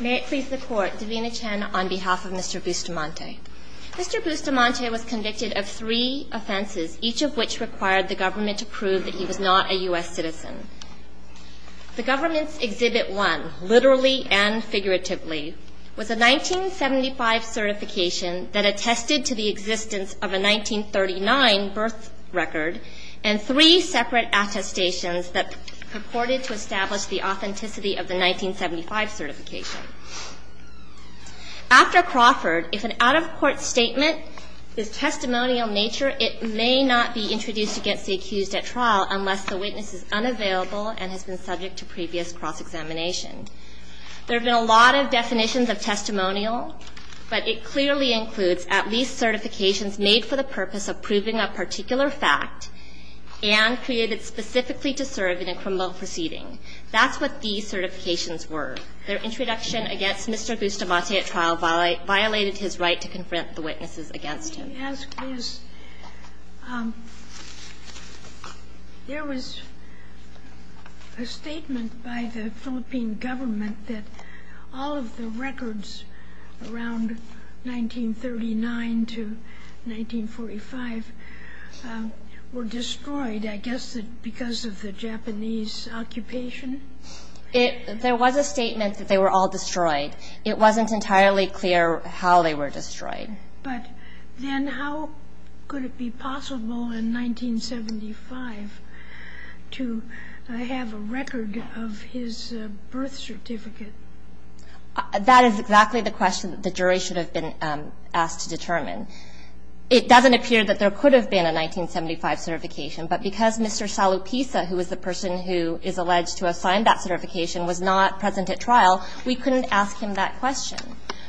May it please the court, Davina Chen on behalf of Mr. Bustamante. Mr. Bustamante was convicted of three offenses, each of which required the government to prove that he was not a U.S. citizen. The government's Exhibit 1, literally and figuratively, was a 1975 certification that attested to the existence of a 1939 birth record and three separate attestations that purported to establish the authenticity of the 1975 certification. After Crawford, if an out-of-court statement is testimonial in nature, it may not be introduced against the accused at trial unless the witness is unavailable and has been subject to previous cross-examination. There have been a lot of definitions of testimonial, but it clearly includes at least certifications made for the purpose of proving a particular fact and created specifically to serve in a criminal proceeding. That's what these certifications were. Their introduction against Mr. Bustamante at trial violated his right to confront the witnesses against him. The question I want to ask is, there was a statement by the Philippine government that all of the records around 1939 to 1945 were destroyed, I guess, because of the Japanese occupation? There was a statement that they were all destroyed. It wasn't entirely clear how they were destroyed. But then how could it be possible in 1975 to have a record of his birth certificate? That is exactly the question that the jury should have been asked to determine. It doesn't appear that there could have been a 1975 certification, but because Mr. Salupisa, who is the person who is alleged to have signed that certification, was not present at trial, we couldn't ask him that question.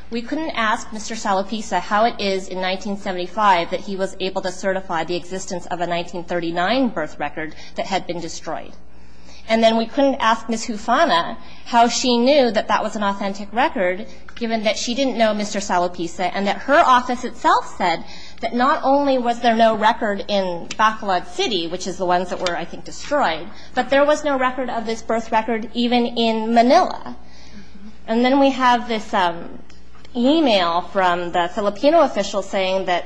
We couldn't ask Mr. Salupisa how it is in 1975 that he was able to certify the existence of a 1939 birth record that had been destroyed. And then we couldn't ask Ms. Hufana how she knew that that was an authentic record, given that she didn't know Mr. Salupisa and that her office itself said that not only was there no record in Bacolod City, which is the ones that were, I think, destroyed, but there was no record of this birth record even in Manila. And then we have this e-mail from the Filipino official saying that,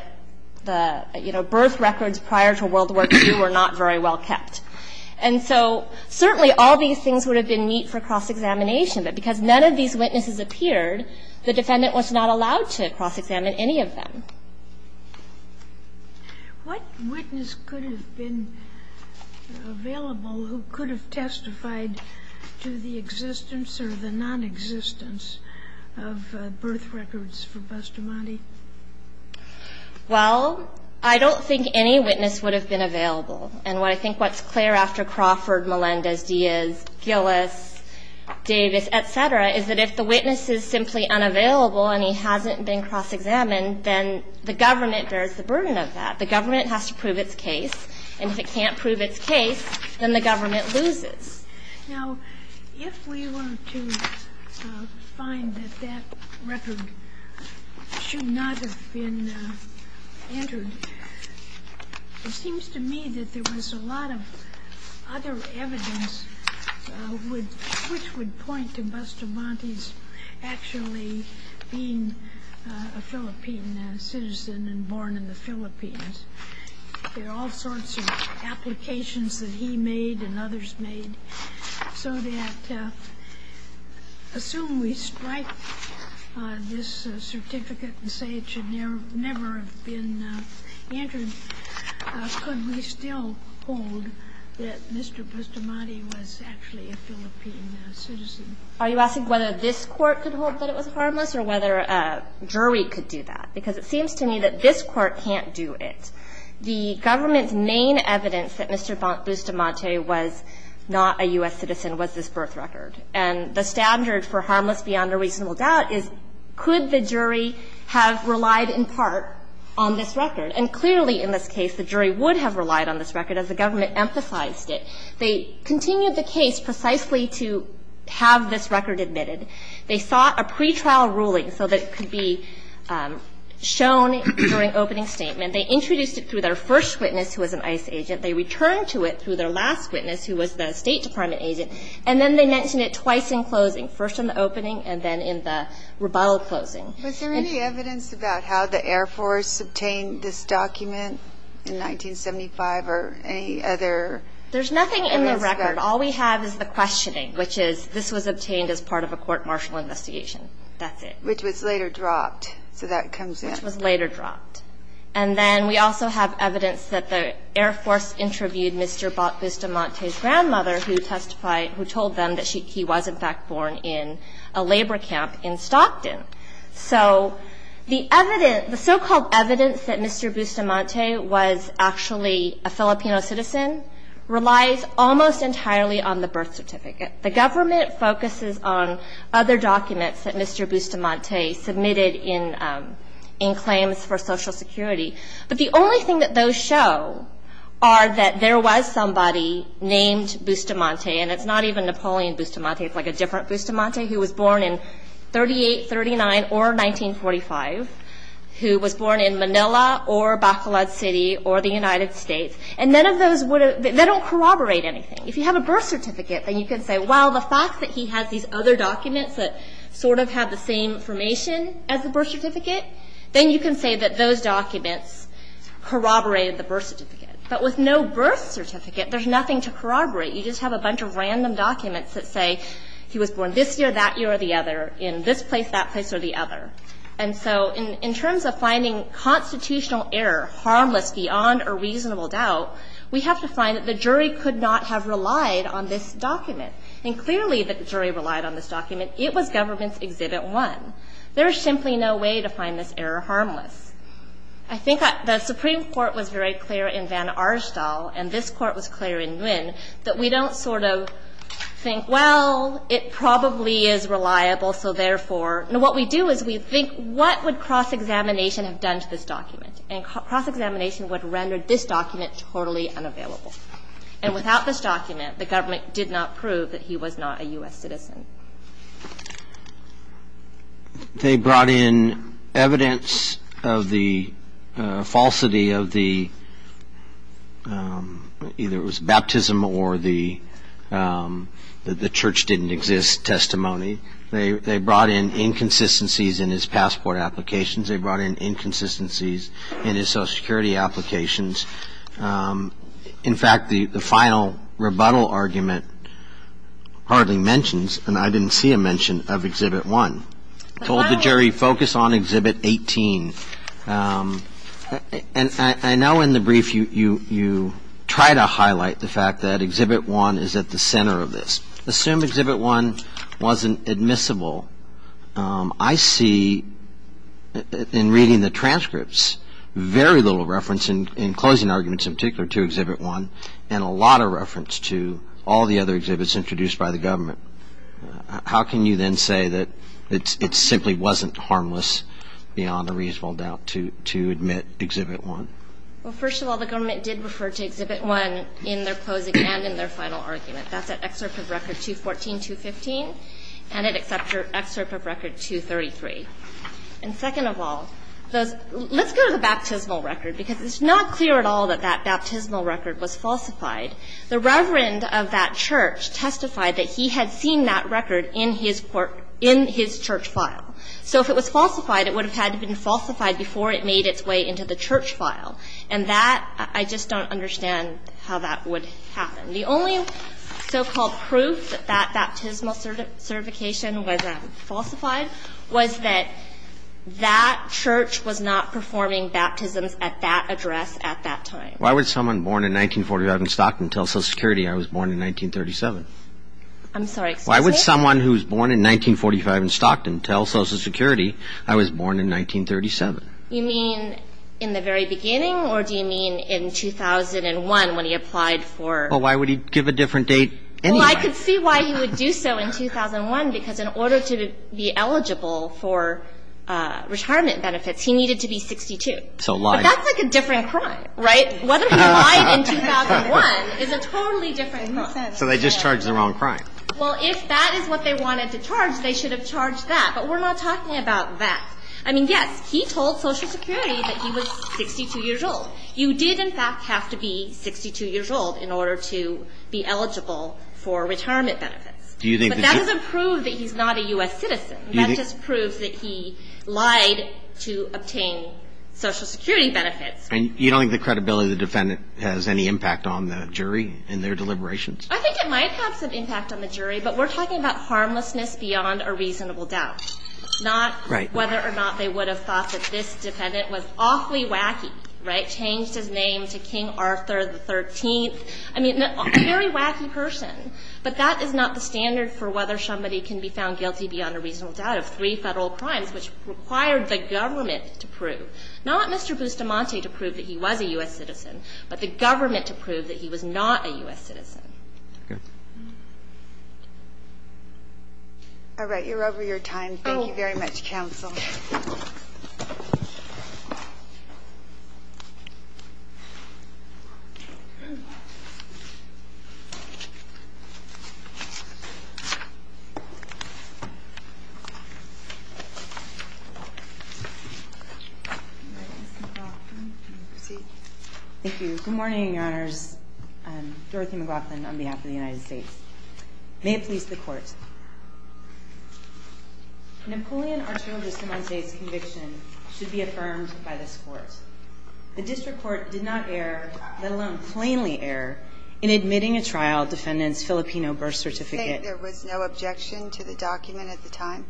you know, birth records prior to World War II were not very well kept. And so certainly all these things would have been neat for cross-examination, but because none of these witnesses appeared, the defendant was not allowed to cross-examine any of them. What witness could have been available who could have testified to the existence or the nonexistence of birth records for Bustamante? Well, I don't think any witness would have been available. And what I think what's clear after Crawford, Melendez, Diaz, Gillis, Davis, et cetera, is that if the witness is simply unavailable and he hasn't been cross-examined, then the government bears the burden of that. The government has to prove its case. And if it can't prove its case, then the government loses. Now, if we were to find that that record should not have been entered, it seems to me that there was a lot of other evidence which would point to Bustamante's actually being a Philippine citizen and born in the Philippines. There are all sorts of applications that he made and others made. So that assume we strike this certificate and say it should never have been entered, could we still hold that Mr. Bustamante was actually a Philippine citizen? Are you asking whether this Court could hold that it was harmless or whether a jury could do that? Because it seems to me that this Court can't do it. The government's main evidence that Mr. Bustamante was not a U.S. citizen was this birth record. And the standard for harmless beyond a reasonable doubt is could the jury have relied in part on this record? And clearly in this case, the jury would have relied on this record as the government emphasized it. They continued the case precisely to have this record admitted. They sought a pretrial ruling so that it could be shown during opening statement. They introduced it through their first witness, who was an ICE agent. They returned to it through their last witness, who was the State Department agent. And then they mentioned it twice in closing, first in the opening and then in the rebuttal closing. Was there any evidence about how the Air Force obtained this document in 1975 or any other? There's nothing in the record. All we have is the questioning, which is this was obtained as part of a court martial investigation. That's it. Which was later dropped. So that comes in. Which was later dropped. And then we also have evidence that the Air Force interviewed Mr. Bustamante's grandmother, who testified, who told them that he was, in fact, born in a labor camp in Stockton. So the evidence, the so-called evidence that Mr. Bustamante was actually a Filipino citizen relies almost entirely on the birth certificate. The government focuses on other documents that Mr. Bustamante submitted in claims for Social Security. But the only thing that those show are that there was somebody named Bustamante. And it's not even Napoleon Bustamante. It's like a different Bustamante who was born in 38, 39, or 1945, who was born in Manila or Bacolod City or the United States. And none of those would have – they don't corroborate anything. If you have a birth certificate, then you can say, well, the fact that he has these other documents that sort of have the same information as the birth certificate, then you can say that those documents corroborated the birth certificate. But with no birth certificate, there's nothing to corroborate. You just have a bunch of random documents that say he was born this year, that year, or the other, in this place, that place, or the other. And so in terms of finding constitutional error harmless beyond a reasonable doubt, we have to find that the jury could not have relied on this document. And clearly, the jury relied on this document. It was Government's Exhibit 1. There is simply no way to find this error harmless. I think the Supreme Court was very clear in Van Aerstal, and this Court was clear in Nguyen, that we don't sort of think, well, it probably is reliable, so therefore what we do is we think, what would cross-examination have done to this document? And cross-examination would render this document totally unavailable. And without this document, the government did not prove that he was not a U.S. citizen. They brought in evidence of the falsity of the, either it was baptism or the church didn't exist testimony. They brought in inconsistencies in his passport applications. They brought in inconsistencies in his Social Security applications. In fact, the final rebuttal argument hardly mentions, and I didn't see a mention, of Exhibit 1. Told the jury, focus on Exhibit 18. And I know in the brief you try to highlight the fact that Exhibit 1 is at the center of this. Assume Exhibit 1 wasn't admissible. I see, in reading the transcripts, very little reference in closing arguments in particular to Exhibit 1, and a lot of reference to all the other exhibits introduced by the government. How can you then say that it simply wasn't harmless, beyond a reasonable doubt, to admit Exhibit 1? Well, first of all, the government did refer to Exhibit 1 in their closing and in their final argument. That's at Excerpt of Record 214, 215, and it accepts Excerpt of Record 233. And second of all, let's go to the baptismal record, because it's not clear at all that that baptismal record was falsified. The reverend of that church testified that he had seen that record in his court – in his church file. So if it was falsified, it would have had to have been falsified before it made its way into the church file. And that, I just don't understand how that would happen. The only so-called proof that that baptismal certification was falsified was that that church was not performing baptisms at that address at that time. Why would someone born in 1945 in Stockton tell Social Security I was born in 1937? I'm sorry, excuse me? Why would someone who was born in 1945 in Stockton tell Social Security I was born in 1937? You mean in the very beginning, or do you mean in 2001 when he applied for – Well, why would he give a different date anyway? Well, I could see why he would do so in 2001, because in order to be eligible for retirement benefits, he needed to be 62. But that's like a different crime, right? Whether he lied in 2001 is a totally different percentage. So they just charged the wrong crime. Well, if that is what they wanted to charge, they should have charged that. But we're not talking about that. I mean, yes, he told Social Security that he was 62 years old. You did, in fact, have to be 62 years old in order to be eligible for retirement benefits. But that doesn't prove that he's not a U.S. citizen. That just proves that he lied to obtain Social Security benefits. And you don't think the credibility of the defendant has any impact on the jury in their deliberations? I think it might have some impact on the jury, but we're talking about harmlessness beyond a reasonable doubt. It's not whether or not they would have thought that this defendant was awfully wacky, right, changed his name to King Arthur XIII. I mean, a very wacky person. But that is not the standard for whether somebody can be found guilty beyond a reasonable doubt of three Federal crimes, which required the government to prove. Not Mr. Bustamante to prove that he was a U.S. citizen, but the government to prove that he was not a U.S. citizen. All right. You're over your time. Thank you very much, counsel. Ms. McLaughlin, you may proceed. Thank you. Good morning, Your Honors. Dorothy McLaughlin on behalf of the United States. May it please the Court. Napoleon Arturo Bustamante's conviction should be affirmed by this Court. The district court did not err, let alone plainly err, in admitting a trial defendant's Filipino birth certificate. You think there was no objection to the document at the time?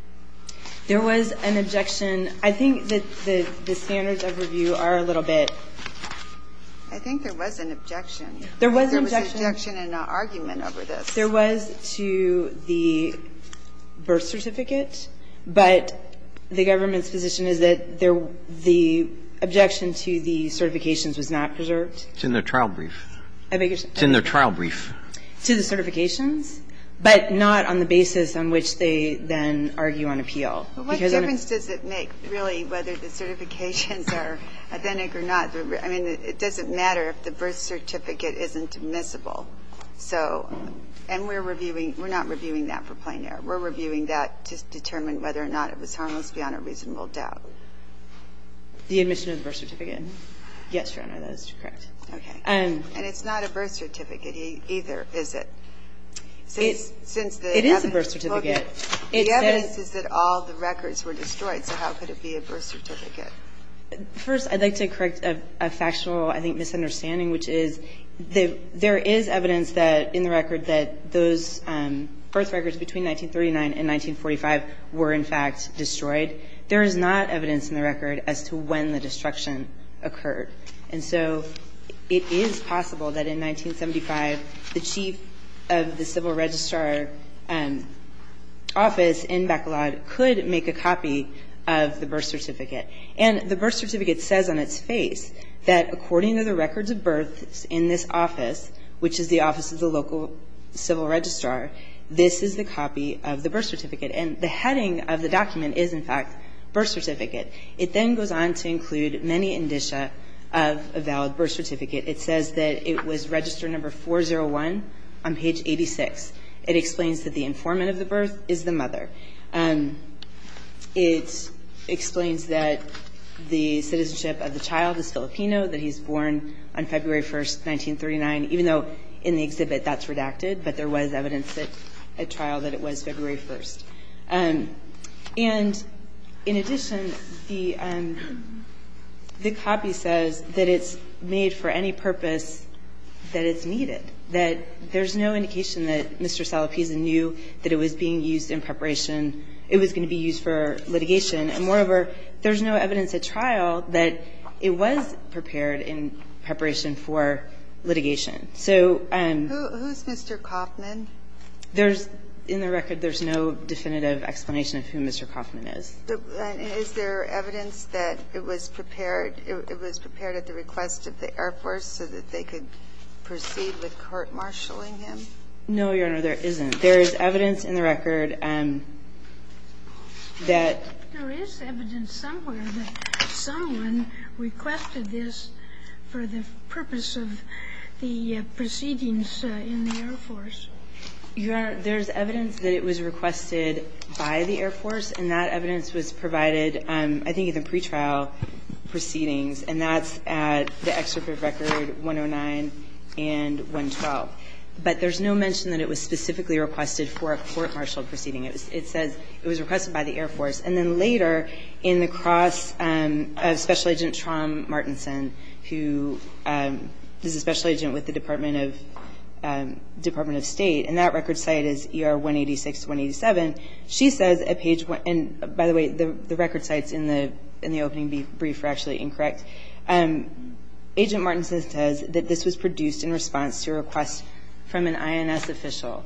There was an objection. I think that the standards of review are a little bit. I think there was an objection. There was an objection. There was an objection and an argument over this. There was to the birth certificate, but the government's position is that the objection to the certifications was not preserved. It's in their trial brief. I beg your pardon? It's in their trial brief. To the certifications, but not on the basis on which they then argue on appeal. Well, what difference does it make, really, whether the certifications are authentic or not? I mean, it doesn't matter if the birth certificate isn't admissible. So, and we're reviewing. We're not reviewing that for plain error. We're reviewing that to determine whether or not it was harmless beyond a reasonable doubt. The admission of the birth certificate? Yes, Your Honor, that is correct. Okay. And it's not a birth certificate either, is it? Since the evidence. It is a birth certificate. The evidence is that all the records were destroyed. So how could it be a birth certificate? First, I'd like to correct a factual, I think, misunderstanding, which is there is evidence that in the record that those birth records between 1939 and 1945 were in fact destroyed. There is not evidence in the record as to when the destruction occurred. And so it is possible that in 1975 the chief of the civil registrar office in Bacolod could make a copy of the birth certificate. And the birth certificate says on its face that according to the records of birth in this office, which is the office of the local civil registrar, this is the copy of the birth certificate. And the heading of the document is, in fact, birth certificate. It then goes on to include many indicia of a valid birth certificate. It says that it was register number 401 on page 86. It explains that the informant of the birth is the mother. It explains that the citizenship of the child is Filipino, that he's born on February 1, 1939, even though in the exhibit that's redacted, but there was evidence at trial that it was February 1. And in addition, the copy says that it's made for any purpose that it's needed, that there's no indication that Mr. Salapiza knew that it was being used in preparation – it was going to be used for litigation. And moreover, there's no evidence at trial that it was prepared in preparation for litigation. So – Who's Mr. Kaufman? There's – in the record, there's no definitive explanation of who Mr. Kaufman is. Is there evidence that it was prepared – it was prepared at the request of the Air Force so that they could proceed with court-martialing him? No, Your Honor, there isn't. There is evidence in the record that – There is evidence somewhere that someone requested this for the purpose of the proceedings in the Air Force. Your Honor, there's evidence that it was requested by the Air Force, and that evidence was provided, I think, at the pretrial proceedings, and that's at the excerpt of Record 109 and 112. But there's no mention that it was specifically requested for a court-martialed proceeding. It says it was requested by the Air Force. And then later, in the cross of Special Agent Traum-Martinson, who is a special agent with the Department of State, and that record site is ER 186-187, she says at page – and by the way, the record sites in the opening brief are actually incorrect. Agent Martinson says that this was produced in response to a request from an INS official.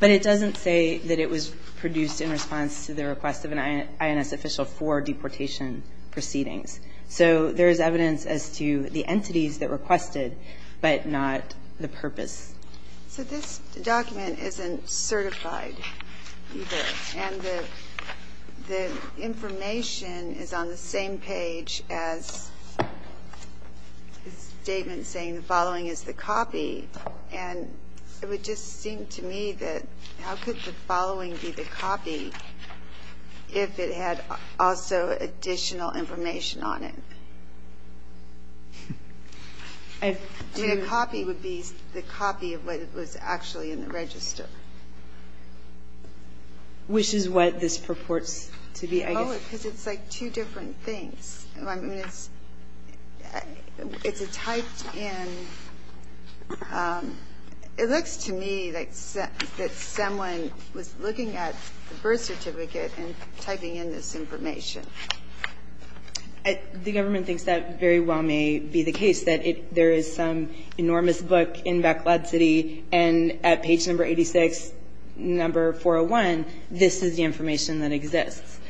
But it doesn't say that it was produced in response to the request of an INS official for deportation proceedings. So there is evidence as to the entities that requested, but not the purpose. So this document isn't certified either, and the information is on the same page as the statement saying the following is the copy. And it would just seem to me that how could the following be the copy if it had also additional information on it? I mean, a copy would be the copy of what was actually in the register. Which is what this purports to be, I guess. Oh, because it's like two different things. I mean, it's a typed in – it looks to me that someone was looking at the birth information. The government thinks that very well may be the case, that there is some enormous book in Backlot City, and at page number 86, number 401, this is the information that exists.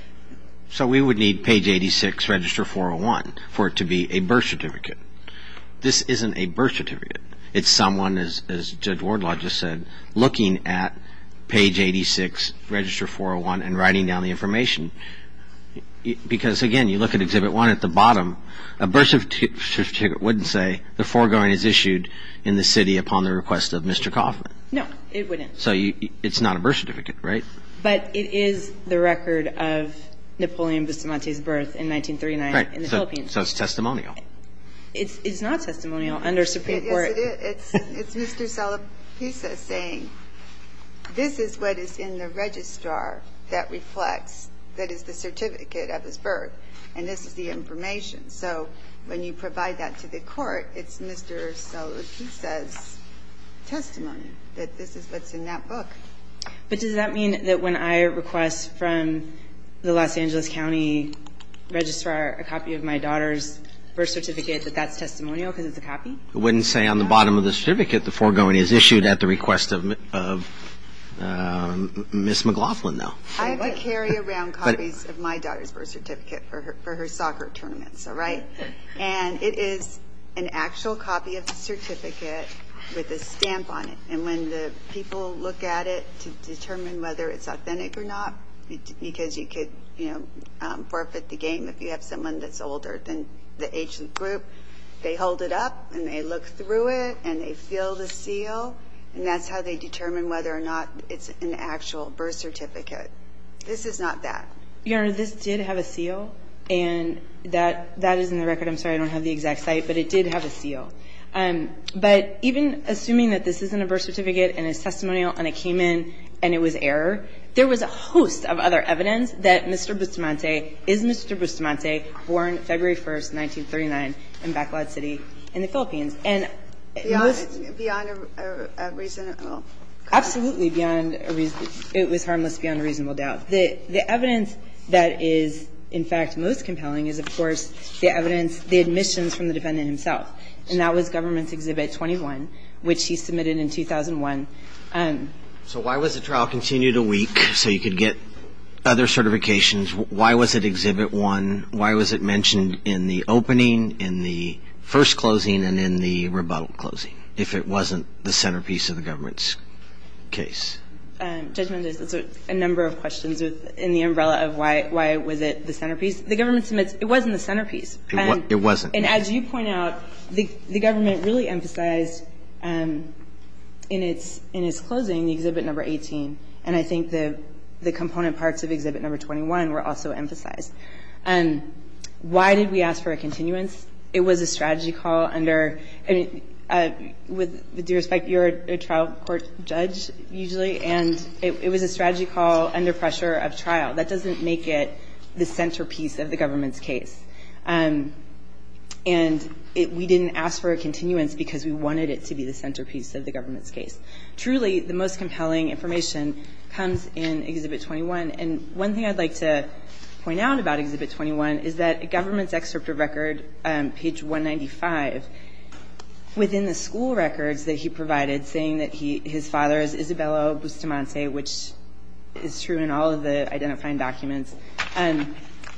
So we would need page 86, register 401 for it to be a birth certificate. This isn't a birth certificate. It's someone, as Judge Wardlaw just said, looking at page 86, register 401, and it's not a birth certificate. Because, again, you look at Exhibit 1 at the bottom, a birth certificate wouldn't say the foregoing is issued in the city upon the request of Mr. Kaufman. No, it wouldn't. So it's not a birth certificate, right? But it is the record of Napoleon Bustamante's birth in 1939 in the Philippines. Right. So it's testimonial. It's not testimonial under Supreme Court. Yes, it is. It's Mr. Salapisa saying this is what is in the registrar that reflects, that is, the certificate of his birth, and this is the information. So when you provide that to the court, it's Mr. Salapisa's testimony that this is what's in that book. But does that mean that when I request from the Los Angeles County Registrar a copy of my daughter's birth certificate that that's testimonial because it's a copy? It wouldn't say on the bottom of the certificate the foregoing is issued at the request of Ms. McLaughlin, no. I have to carry around copies of my daughter's birth certificate for her soccer tournaments, all right? And it is an actual copy of the certificate with a stamp on it. And when the people look at it to determine whether it's authentic or not, because you could forfeit the game if you have someone that's older than the age of the group, they hold it up and they look through it and they feel the seal, and that's how they determine whether or not it's an actual birth certificate. This is not that. Your Honor, this did have a seal, and that is in the record. I'm sorry I don't have the exact site, but it did have a seal. But even assuming that this isn't a birth certificate and it's testimonial and it came in and it was error, there was a host of other evidence that Mr. Bustamante is Mr. Bustamante, born February 1, 1939, in Bacolod City in the Philippines. And it was beyond a reasonable doubt. The evidence that is, in fact, most compelling is, of course, the evidence, the admissions from the defendant himself. And that was Government's Exhibit 21, which he submitted in 2001. So why was the trial continued a week so you could get other certifications? Why was it Exhibit 1? Why was it mentioned in the opening, in the first closing, and in the rebuttal closing if it wasn't the centerpiece of the Government's case? Judge Mendez, there's a number of questions in the umbrella of why was it the centerpiece. The Government submits it wasn't the centerpiece. It wasn't. And as you point out, the Government really emphasized in its closing, the Exhibit No. 18, and I think the component parts of Exhibit No. 21 were also emphasized. Why did we ask for a continuance? It was a strategy call under – with due respect, you're a trial court judge usually, and it was a strategy call under pressure of trial. That doesn't make it the centerpiece of the Government's case. And we didn't ask for a continuance because we wanted it to be the centerpiece of the Government's case. Truly, the most compelling information comes in Exhibit 21. And one thing I'd like to point out about Exhibit 21 is that the Government's excerpt of record, page 195, within the school records that he provided saying that his father is Isabella Bustamante, which is true in all of the identifying documents,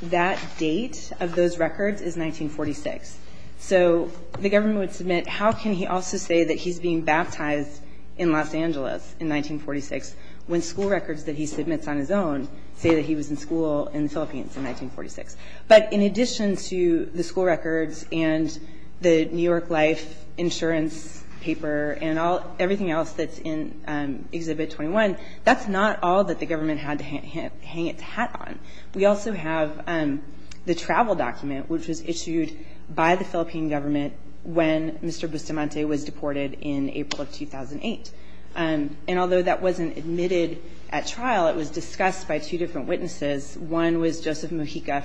that date of those records is 1946. So the Government would submit, how can he also say that he's being baptized in Los Angeles in 1946 when school records that he submits on his own say that he was in school in the Philippines in 1946? But in addition to the school records and the New York Life insurance paper and everything else that's in Exhibit 21, that's not all that the Government had to hang its hat on. We also have the travel document, which was issued by the Philippine Government when Mr. Bustamante was deported in April of 2008. And although that wasn't admitted at trial, it was discussed by two different witnesses. One was Joseph Mujica,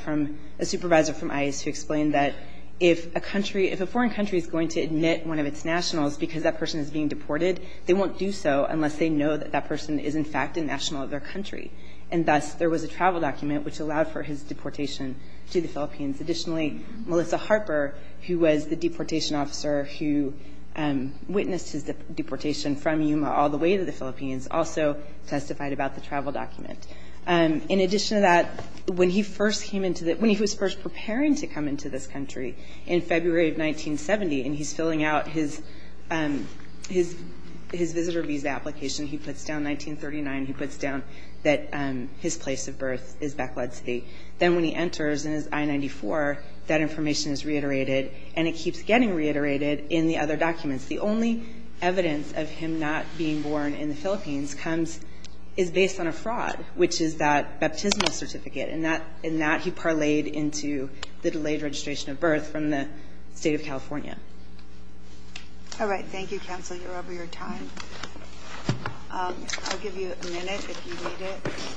a supervisor from ICE, who explained that if a foreign country is going to admit one of its nationals because that person is being deported, they won't do so unless they know that that person is, in fact, a national of their country. And thus, there was a travel document which allowed for his deportation to the Philippines. Additionally, Melissa Harper, who was the deportation officer who witnessed his deportation from Yuma all the way to the Philippines, also testified about the travel document. In addition to that, when he was first preparing to come into this country in February of 1970, and he's filling out his visitor visa application, he puts down 1939. He puts down that his place of birth is Bacolod City. Then when he enters in his I-94, that information is reiterated, and it keeps getting reiterated in the other documents. The only evidence of him not being born in the Philippines comes as based on a fraud, which is that baptismal certificate. And that he parlayed into the delayed registration of birth from the State of California. All right. Thank you, counsel. You're over your time. I'll give you a minute if you need it.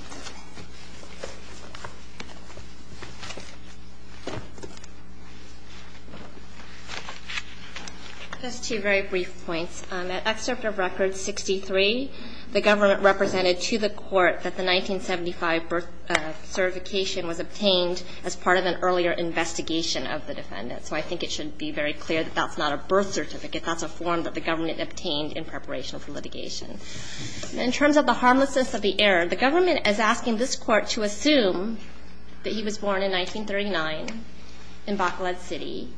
Just two very brief points. The excerpt of Record 63, the government represented to the court that the 1975 birth certification was obtained as part of an earlier investigation of the defendant. So I think it should be very clear that that's not a birth certificate. That's a form that the government obtained in preparation for litigation. In terms of the harmlessness of the error, the government, as you know, is asking this court to assume that he was born in 1939 in Bacolod City,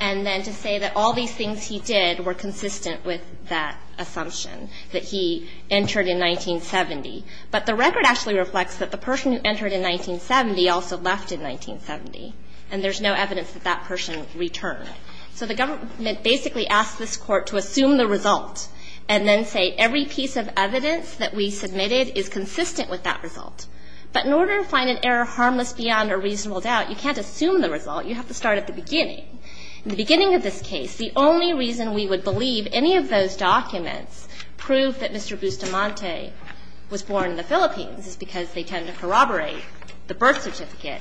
and then to say that all these things he did were consistent with that assumption, that he entered in 1970. But the record actually reflects that the person who entered in 1970 also left in 1970, and there's no evidence that that person returned. So the government basically asked this court to assume the result and then say, Every piece of evidence that we submitted is consistent with that result. But in order to find an error harmless beyond a reasonable doubt, you can't assume the result. You have to start at the beginning. In the beginning of this case, the only reason we would believe any of those documents prove that Mr. Bustamante was born in the Philippines is because they tend to corroborate the birth certificate,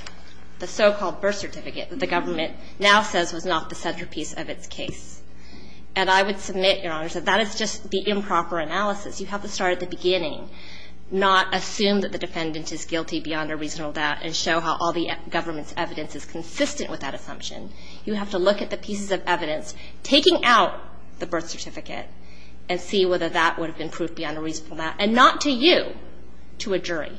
the so-called birth certificate that the government now says was not the centerpiece of its case. And I would submit, Your Honor, that that is just the improper analysis. You have to start at the beginning, not assume that the defendant is guilty beyond a reasonable doubt and show how all the government's evidence is consistent with that assumption. You have to look at the pieces of evidence taking out the birth certificate and see whether that would have been proof beyond a reasonable doubt, and not to you, to a jury.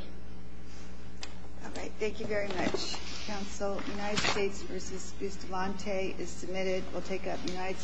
All right. Thank you very much, counsel. United States v. Bustamante is submitted. We'll take a United States v. Bustamante.